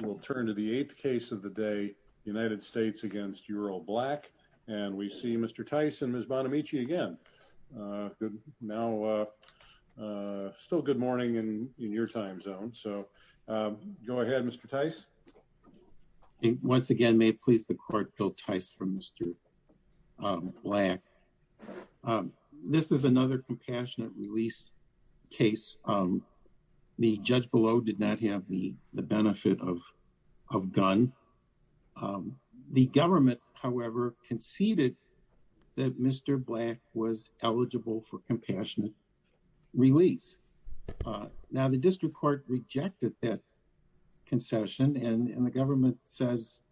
We'll turn to the eighth case of the day, United States v. Eural Black, and we see Mr. Tice and Ms. Bonamici again. Now, still good morning in your time zone, so go ahead, Mr. Tice. Once again, may it please the court, Bill Tice for Mr. Black. This is another compassionate release case. The judge below did not have the of gun. The government, however, conceded that Mr. Black was eligible for compassionate release. Now, the district court rejected that concession, and the government says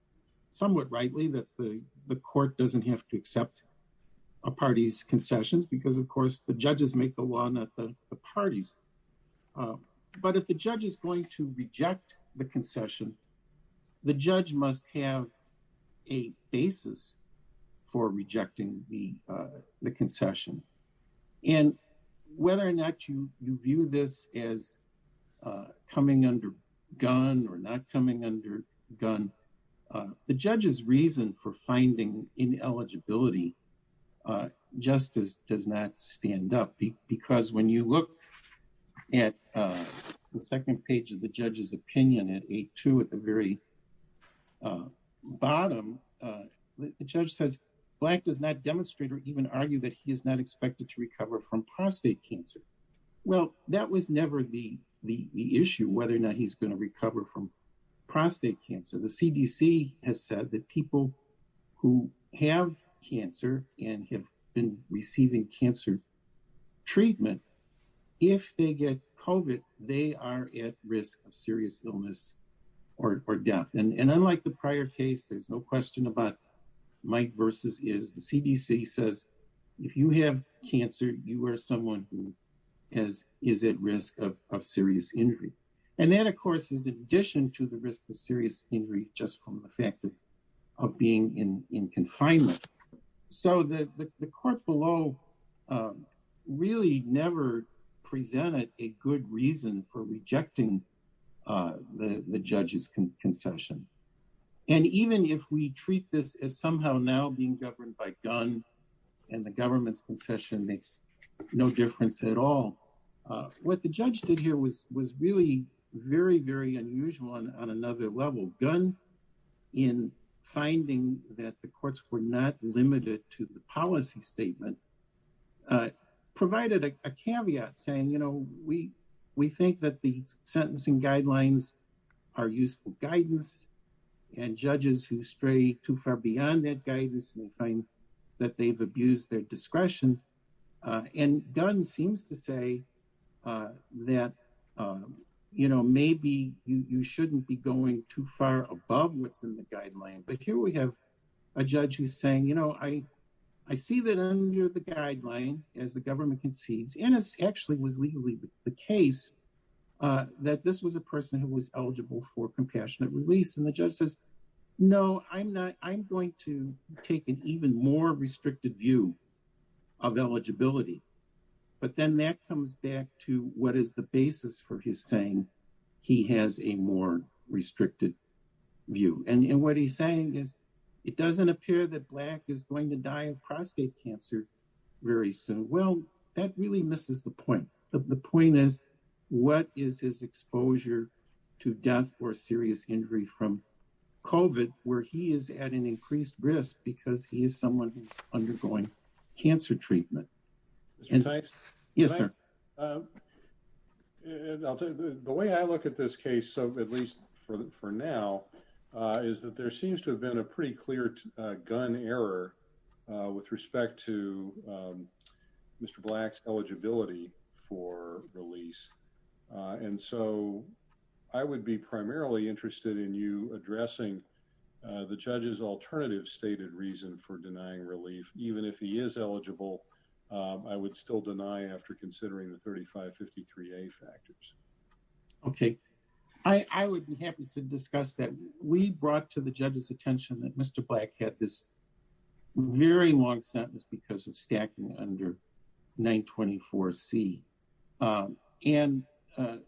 somewhat rightly that the court doesn't have to accept a party's concessions because, of course, judges make the law, not the parties. But if the judge is going to reject the concession, the judge must have a basis for rejecting the concession. And whether or not you view this as coming under gun or not coming under gun, the judge's reason for finding ineligibility just does not stand up. Because when you look at the second page of the judge's opinion at 8-2 at the very bottom, the judge says Black does not demonstrate or even argue that he is not expected to recover from prostate cancer. Well, that was never the issue, whether or not he's going to and have been receiving cancer treatment. If they get COVID, they are at risk of serious illness or death. And unlike the prior case, there's no question about Mike versus his. The CDC says, if you have cancer, you are someone who is at risk of serious injury. And that, of course, is in addition to the risk of serious injury just from the fact of being in confinement. So the court below really never presented a good reason for rejecting the judge's concession. And even if we treat this as somehow now being governed by gun and the government's concession makes no difference at all, what the judge did here was really very, very unusual on another level. Gun, in finding that the courts were not limited to the policy statement, provided a caveat saying, you know, we think that the sentencing guidelines are useful guidance. And judges who stray too far beyond that guidance may find that they've abused their discretion. And Gun seems to say that, you know, maybe you shouldn't be going too far above what's in the guideline. But here we have a judge who's saying, you know, I see that under the guideline, as the government concedes, and this actually was legally the case, that this was a person who was eligible for compassionate release. And the judge says, no, I'm not. I'm going to take an even more restricted view of eligibility. But then that comes back to what is the basis for his saying he has a more restricted view. And what he's saying is, it doesn't appear that Black is going to die of prostate cancer very soon. Well, that really misses the point. The point is, what is his exposure to death or serious injury from COVID where he is at an increased risk because he is someone who's undergoing cancer treatment? Yes, sir. The way I look at this case, so at least for now, is that there seems to have been a pretty clear gun error with respect to Mr. Black's eligibility for release. And so I would be primarily interested in you addressing the judge's alternative stated reason for denying relief. Even if he is eligible, I would still deny after considering the 3553A factors. Okay. I would be happy to discuss that. We brought to the judge's attention that Mr. Black had this very long sentence because of stacking under 924C. And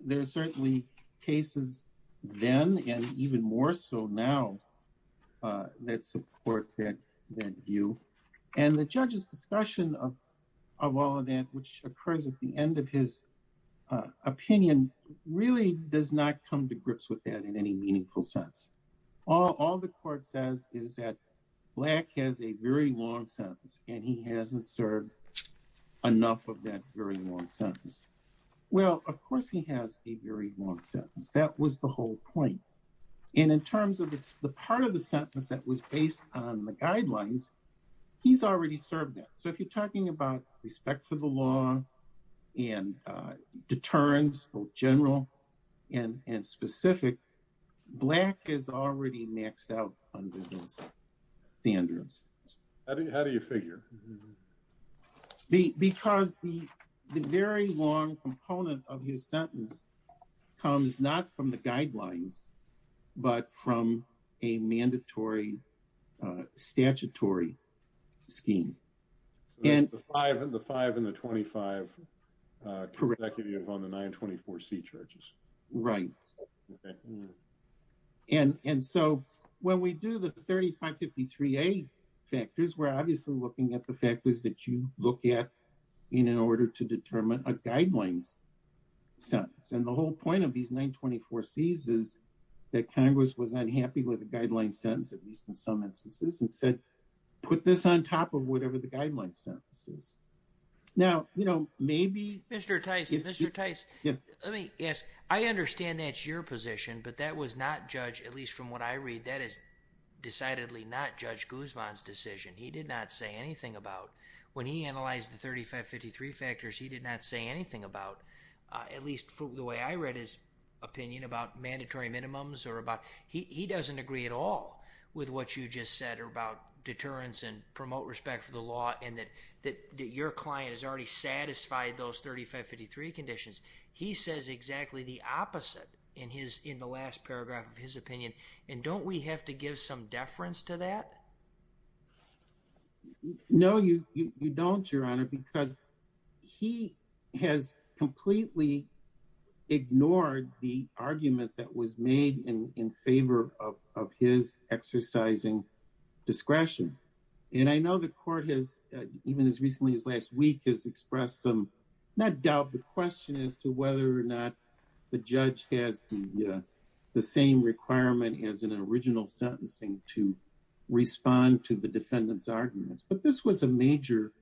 there are certainly cases then and even more so now that support that view. And the judge's discussion of all of that, which occurs at the end of his opinion, really does not come to grips with that in any meaningful sense. All the court says is that Black has a very long sentence and he hasn't served enough of that very long sentence. Well, of course he has a very long sentence. That was the whole point. And in terms of the part of the sentence that was based on the guidelines, he's already served that. So if you're talking about respect for the law and deterrence, general and specific, Black is already maxed out under those standards. How do you figure? Because the very long component of his sentence comes not from the guidelines, but from a mandatory statutory scheme. The 5 and the 25 on the 924C charges. Right. And so when we do the 3553A factors, we're obviously looking at the factors that you look at in order to determine a guidelines sentence. And the whole point of these 924Cs is that Congress was unhappy with the guideline sentence, at least in some instances, and said, put this on top of whatever the guideline sentence is. Now, you know, maybe... Mr. Tice, let me ask, I understand that's your position, but that was not judged, at least from what I read, that is decidedly not Judge Guzman's decision. He did not say anything about, when he analyzed the 3553 factors, he did not say anything about, at least from the way I read his opinion about mandatory minimums or about... He doesn't agree at all with what you just said about deterrence and promote respect for the law, and that your client has already satisfied those 3553 conditions. He says exactly the opposite in the last paragraph of his opinion. And don't we have to give some deference to that? No, you don't, Your Honor, because he has completely ignored the argument that was made in favor of his exercising discretion. And I know the Court has, even as recently as last week, has expressed some, not doubt, but question as to whether or not the judge has the same requirement as in an original sentencing to respond to the defendant's arguments. But this was a major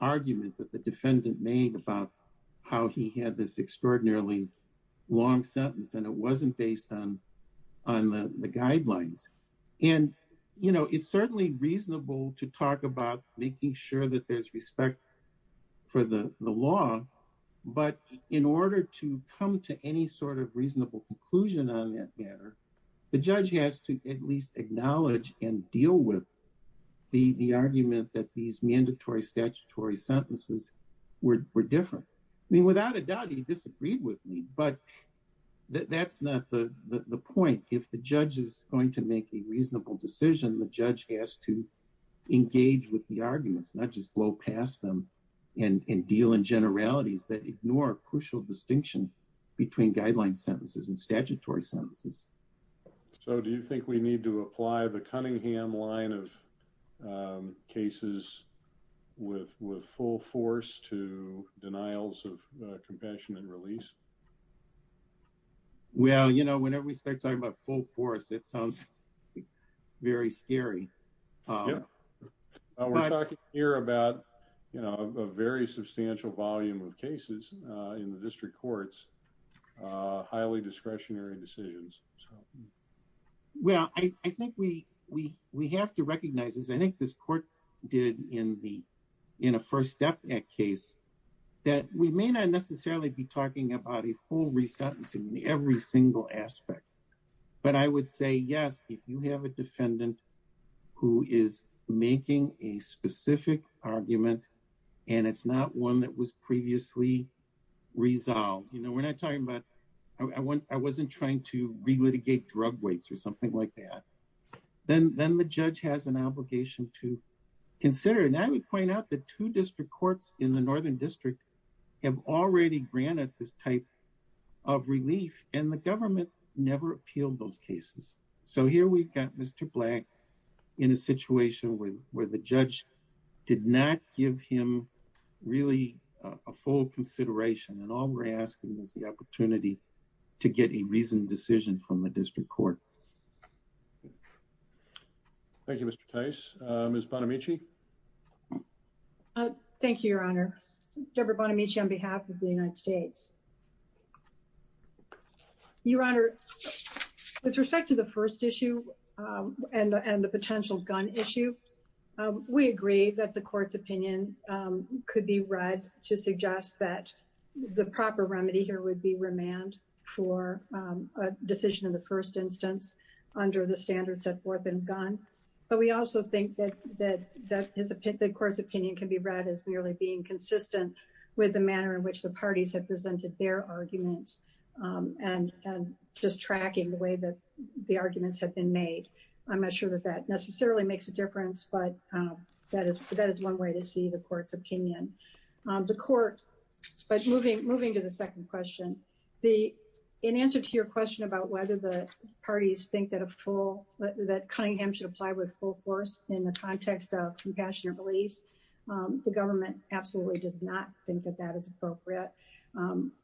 argument that the defendant made about how he had this extraordinarily long sentence, and it wasn't based on the guidelines. And, you know, it's certainly reasonable to talk about making sure that there's respect for the law, but in order to come to any sort of reasonable conclusion on that matter, the judge has to at least acknowledge and deal with the argument that these mandatory statutory sentences were different. I mean, without a doubt, he disagreed with me, but that's not the point. If the judge is going to make a reasonable decision, the judge has to engage with the arguments, not just blow past them and deal in generalities that ignore crucial distinction between guideline sentences and statutory sentences. So do you think we need to apply the Cunningham line of cases with full force to denials of compassion and release? Well, you know, whenever we start talking about full force, it sounds very scary. We're talking here about, you know, a very substantial volume of cases in the district courts, highly discretionary decisions. Well, I think we have to recognize, as I think this court did in a First Step Act case, that we may not necessarily be talking about a full resentencing in every single aspect, but I would say, yes, if you have a defendant who is making a specific argument and it's not one that was previously resolved, you know, we're not talking about, I wasn't trying to relitigate drug weights or something like that, then the judge has an obligation to consider. And I would point out that two district courts in the Northern District have already granted this type of relief and the government never appealed those cases. So here we've got Mr. Black in a situation where the judge did not give him really a full consideration and all we're asking is the opportunity to get a reasoned decision from the district court. Thank you, Mr. Tice. Ms. Bonamici? Thank you, Your Honor. Deborah Bonamici on behalf of the United States. Your Honor, with respect to the first issue and the potential gun issue, we agree that the court's opinion could be read to suggest that the proper remedy here would be remand for a decision in the first instance under the standards of fourth and gun. But we also think that the court's opinion can be read as merely being consistent with the manner in which the parties have presented their arguments and just tracking the way that the arguments have been made. I'm not sure that that necessarily makes a difference, but that is one way to see the court's opinion. The court, but moving to the second question, in answer to your question about whether the parties think that Cunningham should apply with full force in the context of compassionate release, the government absolutely does not think that that is appropriate.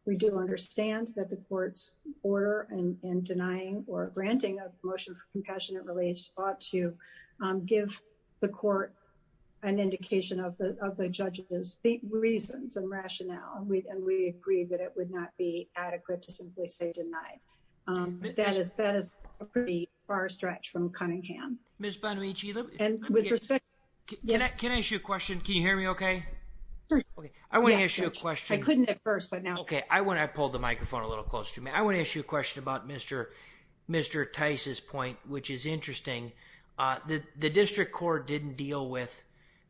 We do understand that the court's order in denying or granting a motion for compassionate release ought to give the court an indication of the judge's reasons and rationale, and we agree that it would not be adequate to simply say deny. That is a pretty far stretch from Cunningham. Ms. Bonamici, can I ask you a question? Can you hear me okay? Sure. Okay. I want to ask you a question. I couldn't at first, but now... Okay. I pulled the microphone a little close to me. I want to ask you a question about Mr. Tice's point, which is interesting. The district court didn't deal with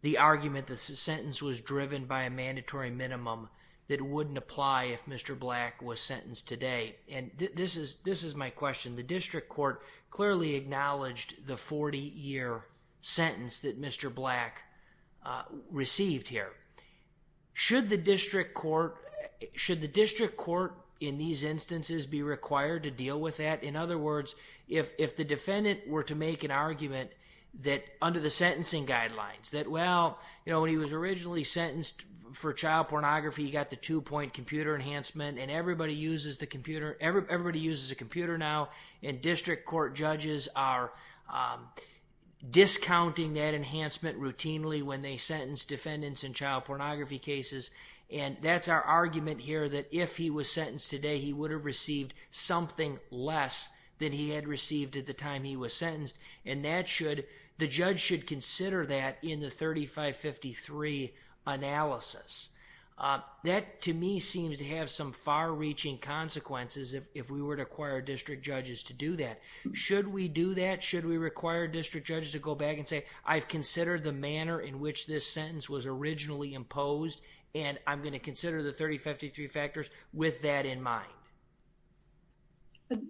the argument that the sentence was driven by a mandatory minimum that wouldn't apply if Mr. Black was sentenced today. This is my question. The district court clearly acknowledged the 40-year sentence that Mr. Black received here. Should the district court in these instances be required to deal with that? In other words, if the defendant were to make an argument under the sentencing guidelines that, well, when he was originally sentenced for child pornography, he got the two-point computer enhancement, and everybody uses a computer now. District court judges are discounting that enhancement routinely when they sentence defendants in child pornography cases. That's our argument here that if he was sentenced today, he would have received something less than he had received at the time he was sentenced. The judge should consider that in the 3553 analysis. That, to me, seems to have some far-reaching consequences if we were to require district judges to do that. Should we do that? Should we require district judges to go back and say, I've considered the manner in which this sentence was originally imposed, and I'm going to consider the 3053 factors with that in mind?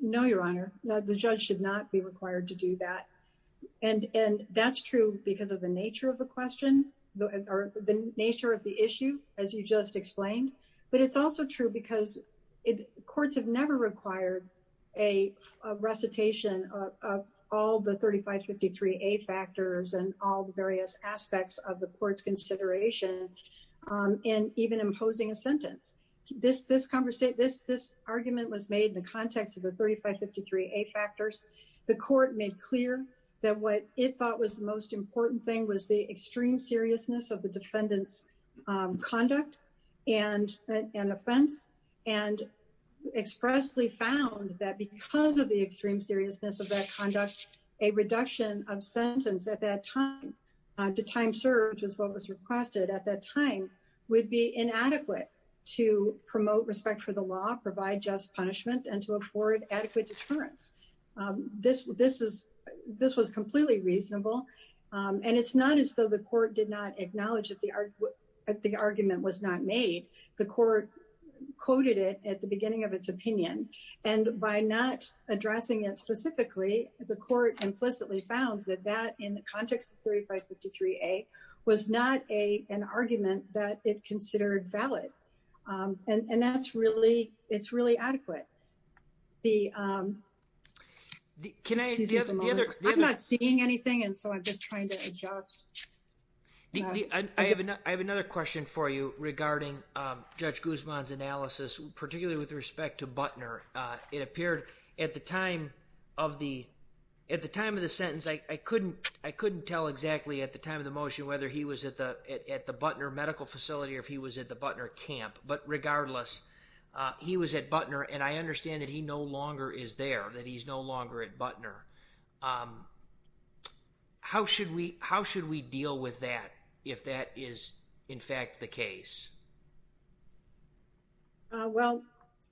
No, Your Honor. The judge should not be required to do that. And that's true because of the nature of the question, or the nature of the issue, as you just explained. But it's also true because courts have never required a recitation of all the 3553A factors and all the various aspects of the court's consideration in even imposing a sentence. This argument was made in the context of the 3553A factors. The court made clear that what it thought was the most important thing was the extreme seriousness of the defendant's conduct and offense, and expressly found that because of the extreme seriousness of that conduct, a reduction of sentence at that time to time served, which is what was requested at that time, would be inadequate to promote respect for the law, provide just punishment, and to afford adequate deterrence. This was completely reasonable. And it's not as though the court did not acknowledge that the argument was not made. The court quoted it at the beginning of its opinion. And by not addressing it specifically, the court implicitly found that that, in the context of 3553A, was not an argument that it considered valid. And that's really adequate. I'm not seeing anything, and so I'm just trying to adjust. I have another question for you regarding Judge Guzman's analysis, particularly with respect to Butner. It appeared at the time of the sentence, I couldn't tell exactly at the time of the motion whether he was at the Butner medical facility or if he was at the Butner camp. But regardless, he was at Butner, and I understand that he no longer is there, that he's no longer at Butner. How should we deal with that if that is, in fact, the case? Well,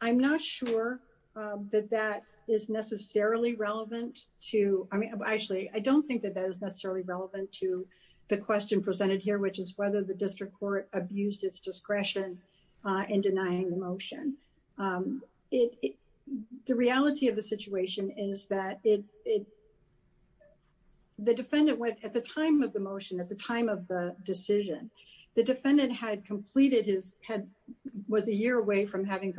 I'm not sure that that is necessarily relevant to—I mean, actually, I don't think that is necessarily relevant to the question presented here, which is whether the district court abused its discretion in denying the motion. The reality of the situation is that the defendant, at the time of the motion, at the time of the decision, the defendant was a year away from having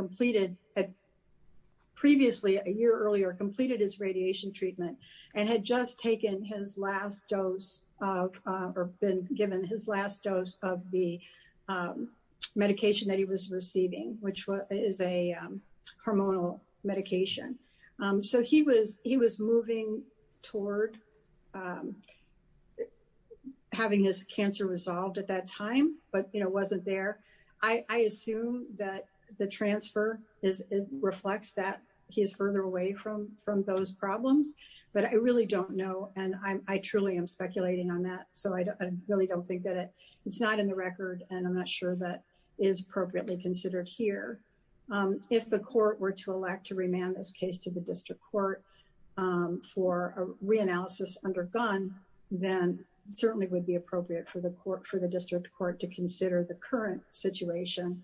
previously, a year earlier, completed his dose—or been given his last dose of the medication that he was receiving, which is a hormonal medication. So he was moving toward having his cancer resolved at that time, but wasn't there. I assume that the transfer reflects that he is further away from those problems, but I really don't know, and I truly am speculating on that, so I really don't think that it's not in the record, and I'm not sure that it is appropriately considered here. If the court were to elect to remand this case to the district court for a reanalysis undergone, then it certainly would be appropriate for the district court to consider the current situation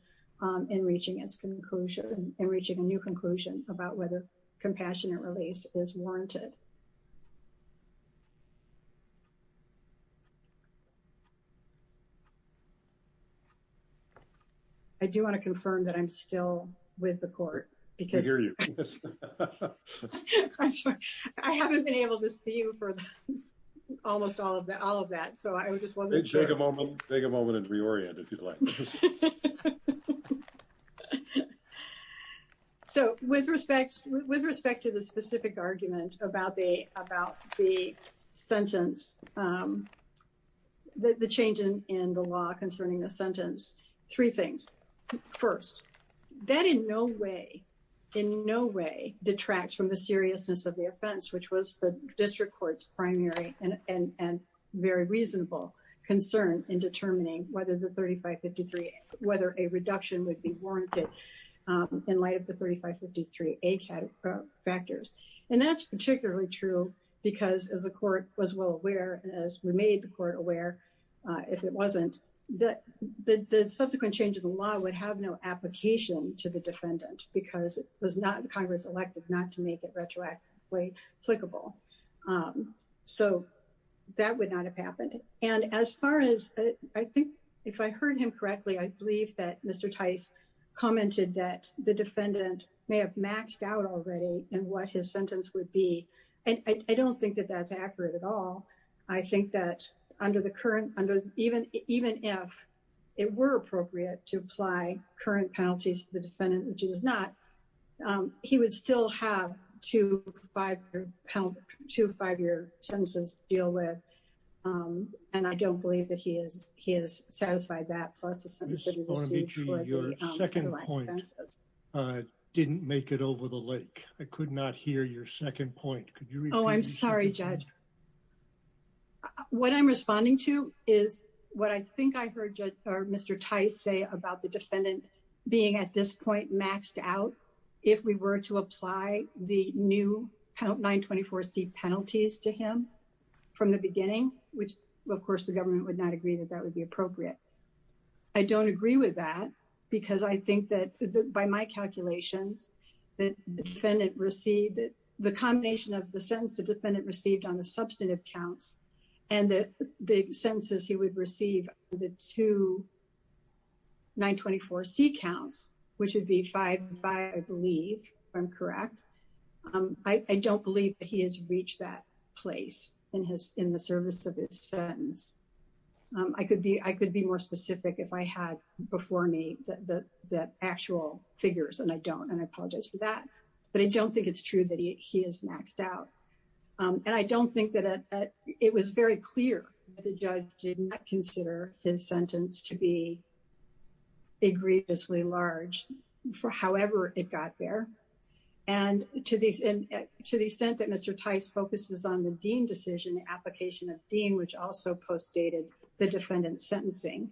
in reaching its conclusion—in reaching a new conclusion about whether compassionate release is warranted. I do want to confirm that I'm still with the court, because— We hear you. I'm sorry. I haven't been able to see you for almost all of that, so I just wasn't sure. Take a moment and reorient if you'd like. Okay. So, with respect to the specific argument about the sentence, the change in the law concerning the sentence, three things. First, that in no way, in no way detracts from the seriousness of the offense, which was the district court's primary and very reasonable concern in determining whether the 3553A—whether a reduction would be warranted in light of the 3553A factors. And that's particularly true because, as the court was well aware, as we made the court aware, if it wasn't, the subsequent change of the law would have no application to the defendant, because it was not Congress-elected not to make it retroactively applicable. So, that would not have happened. And as far as—I think, if I heard him correctly, I believe that Mr. Tice commented that the defendant may have maxed out already in what his sentence would be, and I don't think that that's accurate at all. I think that under the current—even if it were appropriate to apply current penalties to the defendant, which it is two five-year sentences deal with, and I don't believe that he has satisfied that, plus the sentence that he received for the two offenses. Ms. Bonamici, your second point didn't make it over the lake. I could not hear your second point. Could you repeat your second point? Oh, I'm sorry, Judge. What I'm responding to is what I think I heard Mr. Tice say about the defendant being, at this point, maxed out if we were to apply the new 924C penalties to him from the beginning, which, of course, the government would not agree that that would be appropriate. I don't agree with that, because I think that, by my calculations, that the defendant received—the combination of the sentence the defendant received on the counts, which would be five-five, I believe, if I'm correct, I don't believe that he has reached that place in the service of his sentence. I could be more specific if I had before me the actual figures, and I don't, and I apologize for that, but I don't think it's true that he is maxed out. And I don't think that—it was very clear that the judge did not consider his sentence to be egregiously large for however it got there. And to the extent that Mr. Tice focuses on the Dean decision, the application of Dean, which also postdated the defendant's sentencing,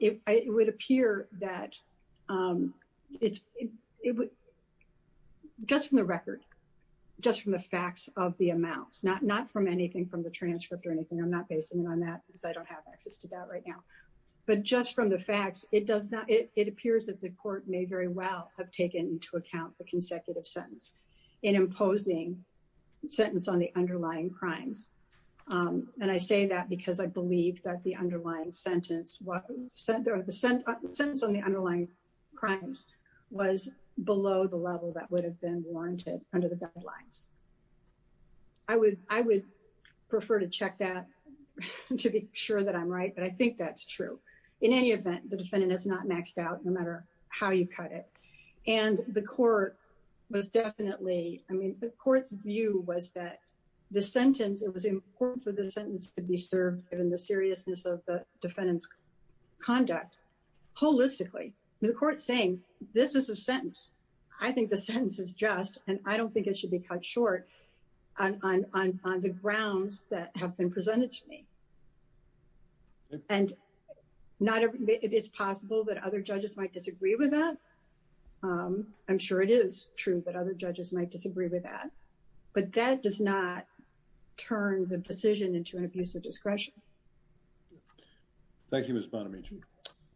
it would appear that it's—just from the record, just from the facts of the amounts, not from anything from the transcript or anything. I'm not basing it on that, because I don't have access to that right now. But just from the facts, it does not—it appears that the court may very well have taken into account the consecutive sentence in imposing sentence on the underlying crimes. And I say that because I believe that the underlying sentence was—the sentence on the underlying crimes was below the level that would have been warranted under the guidelines. I would prefer to check that to be sure that I'm right, but I think that's true. In any event, the defendant is not maxed out, no matter how you cut it. And the court was definitely—I mean, the court's view was that the sentence—it was important for the sentence to be served given the seriousness of the defendant's conduct holistically. The court's saying, this is a sentence. I think the sentence is just, and I don't think it should be cut short on the grounds that have been presented to me. And not—it's possible that other judges might disagree with that. I'm sure it is true that other judges might disagree with that. But that does not turn the decision into an abuse of discretion. Thank you, Ms. Bonamici.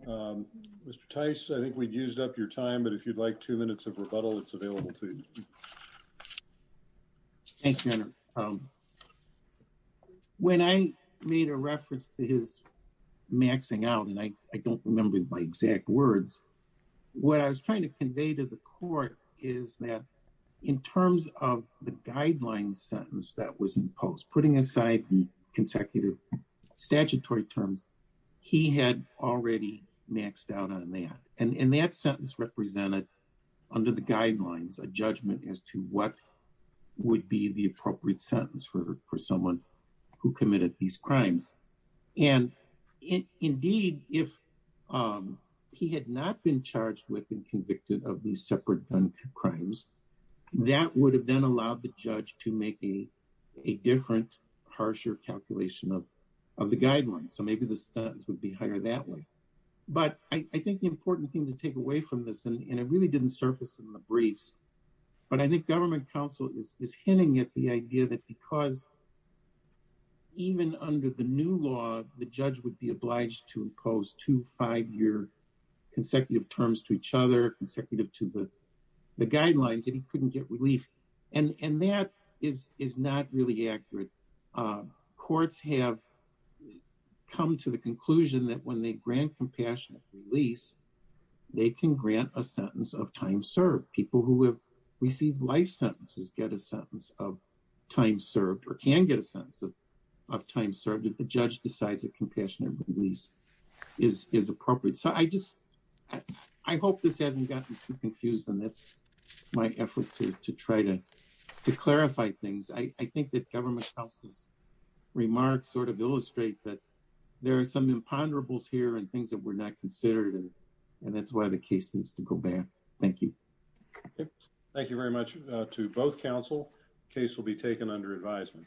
Mr. Tice, I think we've used up your time, but if you'd like two minutes of rebuttal, it's available to you. Thank you. When I made a reference to his maxing out, and I don't remember my exact words, what I was trying to convey to the court is that in terms of the guideline sentence that was statutory terms, he had already maxed out on that. And that sentence represented, under the guidelines, a judgment as to what would be the appropriate sentence for someone who committed these crimes. And indeed, if he had not been charged with and convicted of these separate gun crimes, that would have then allowed the judge to make a different, harsher calculation of the guidelines. So maybe the sentence would be higher that way. But I think the important thing to take away from this, and it really didn't surface in the briefs, but I think government counsel is hinting at the idea that because even under the new law, the judge would be obliged to impose two five-year consecutive terms to each other, consecutive to the guidelines, that he couldn't get relief. And that is not really accurate. Courts have come to the conclusion that when they grant compassionate release, they can grant a sentence of time served. People who have received life sentences get a sentence of time served or can get a sentence of time served if the judge decides that compassionate release is appropriate. So I hope this hasn't gotten too confused, and that's my effort to try to clarify things. I think that government counsel's remarks sort of illustrate that there are some imponderables here and things that were not considered, and that's why the case needs to go back. Thank you. Thank you very much to both counsel. Case will be taken under advisement.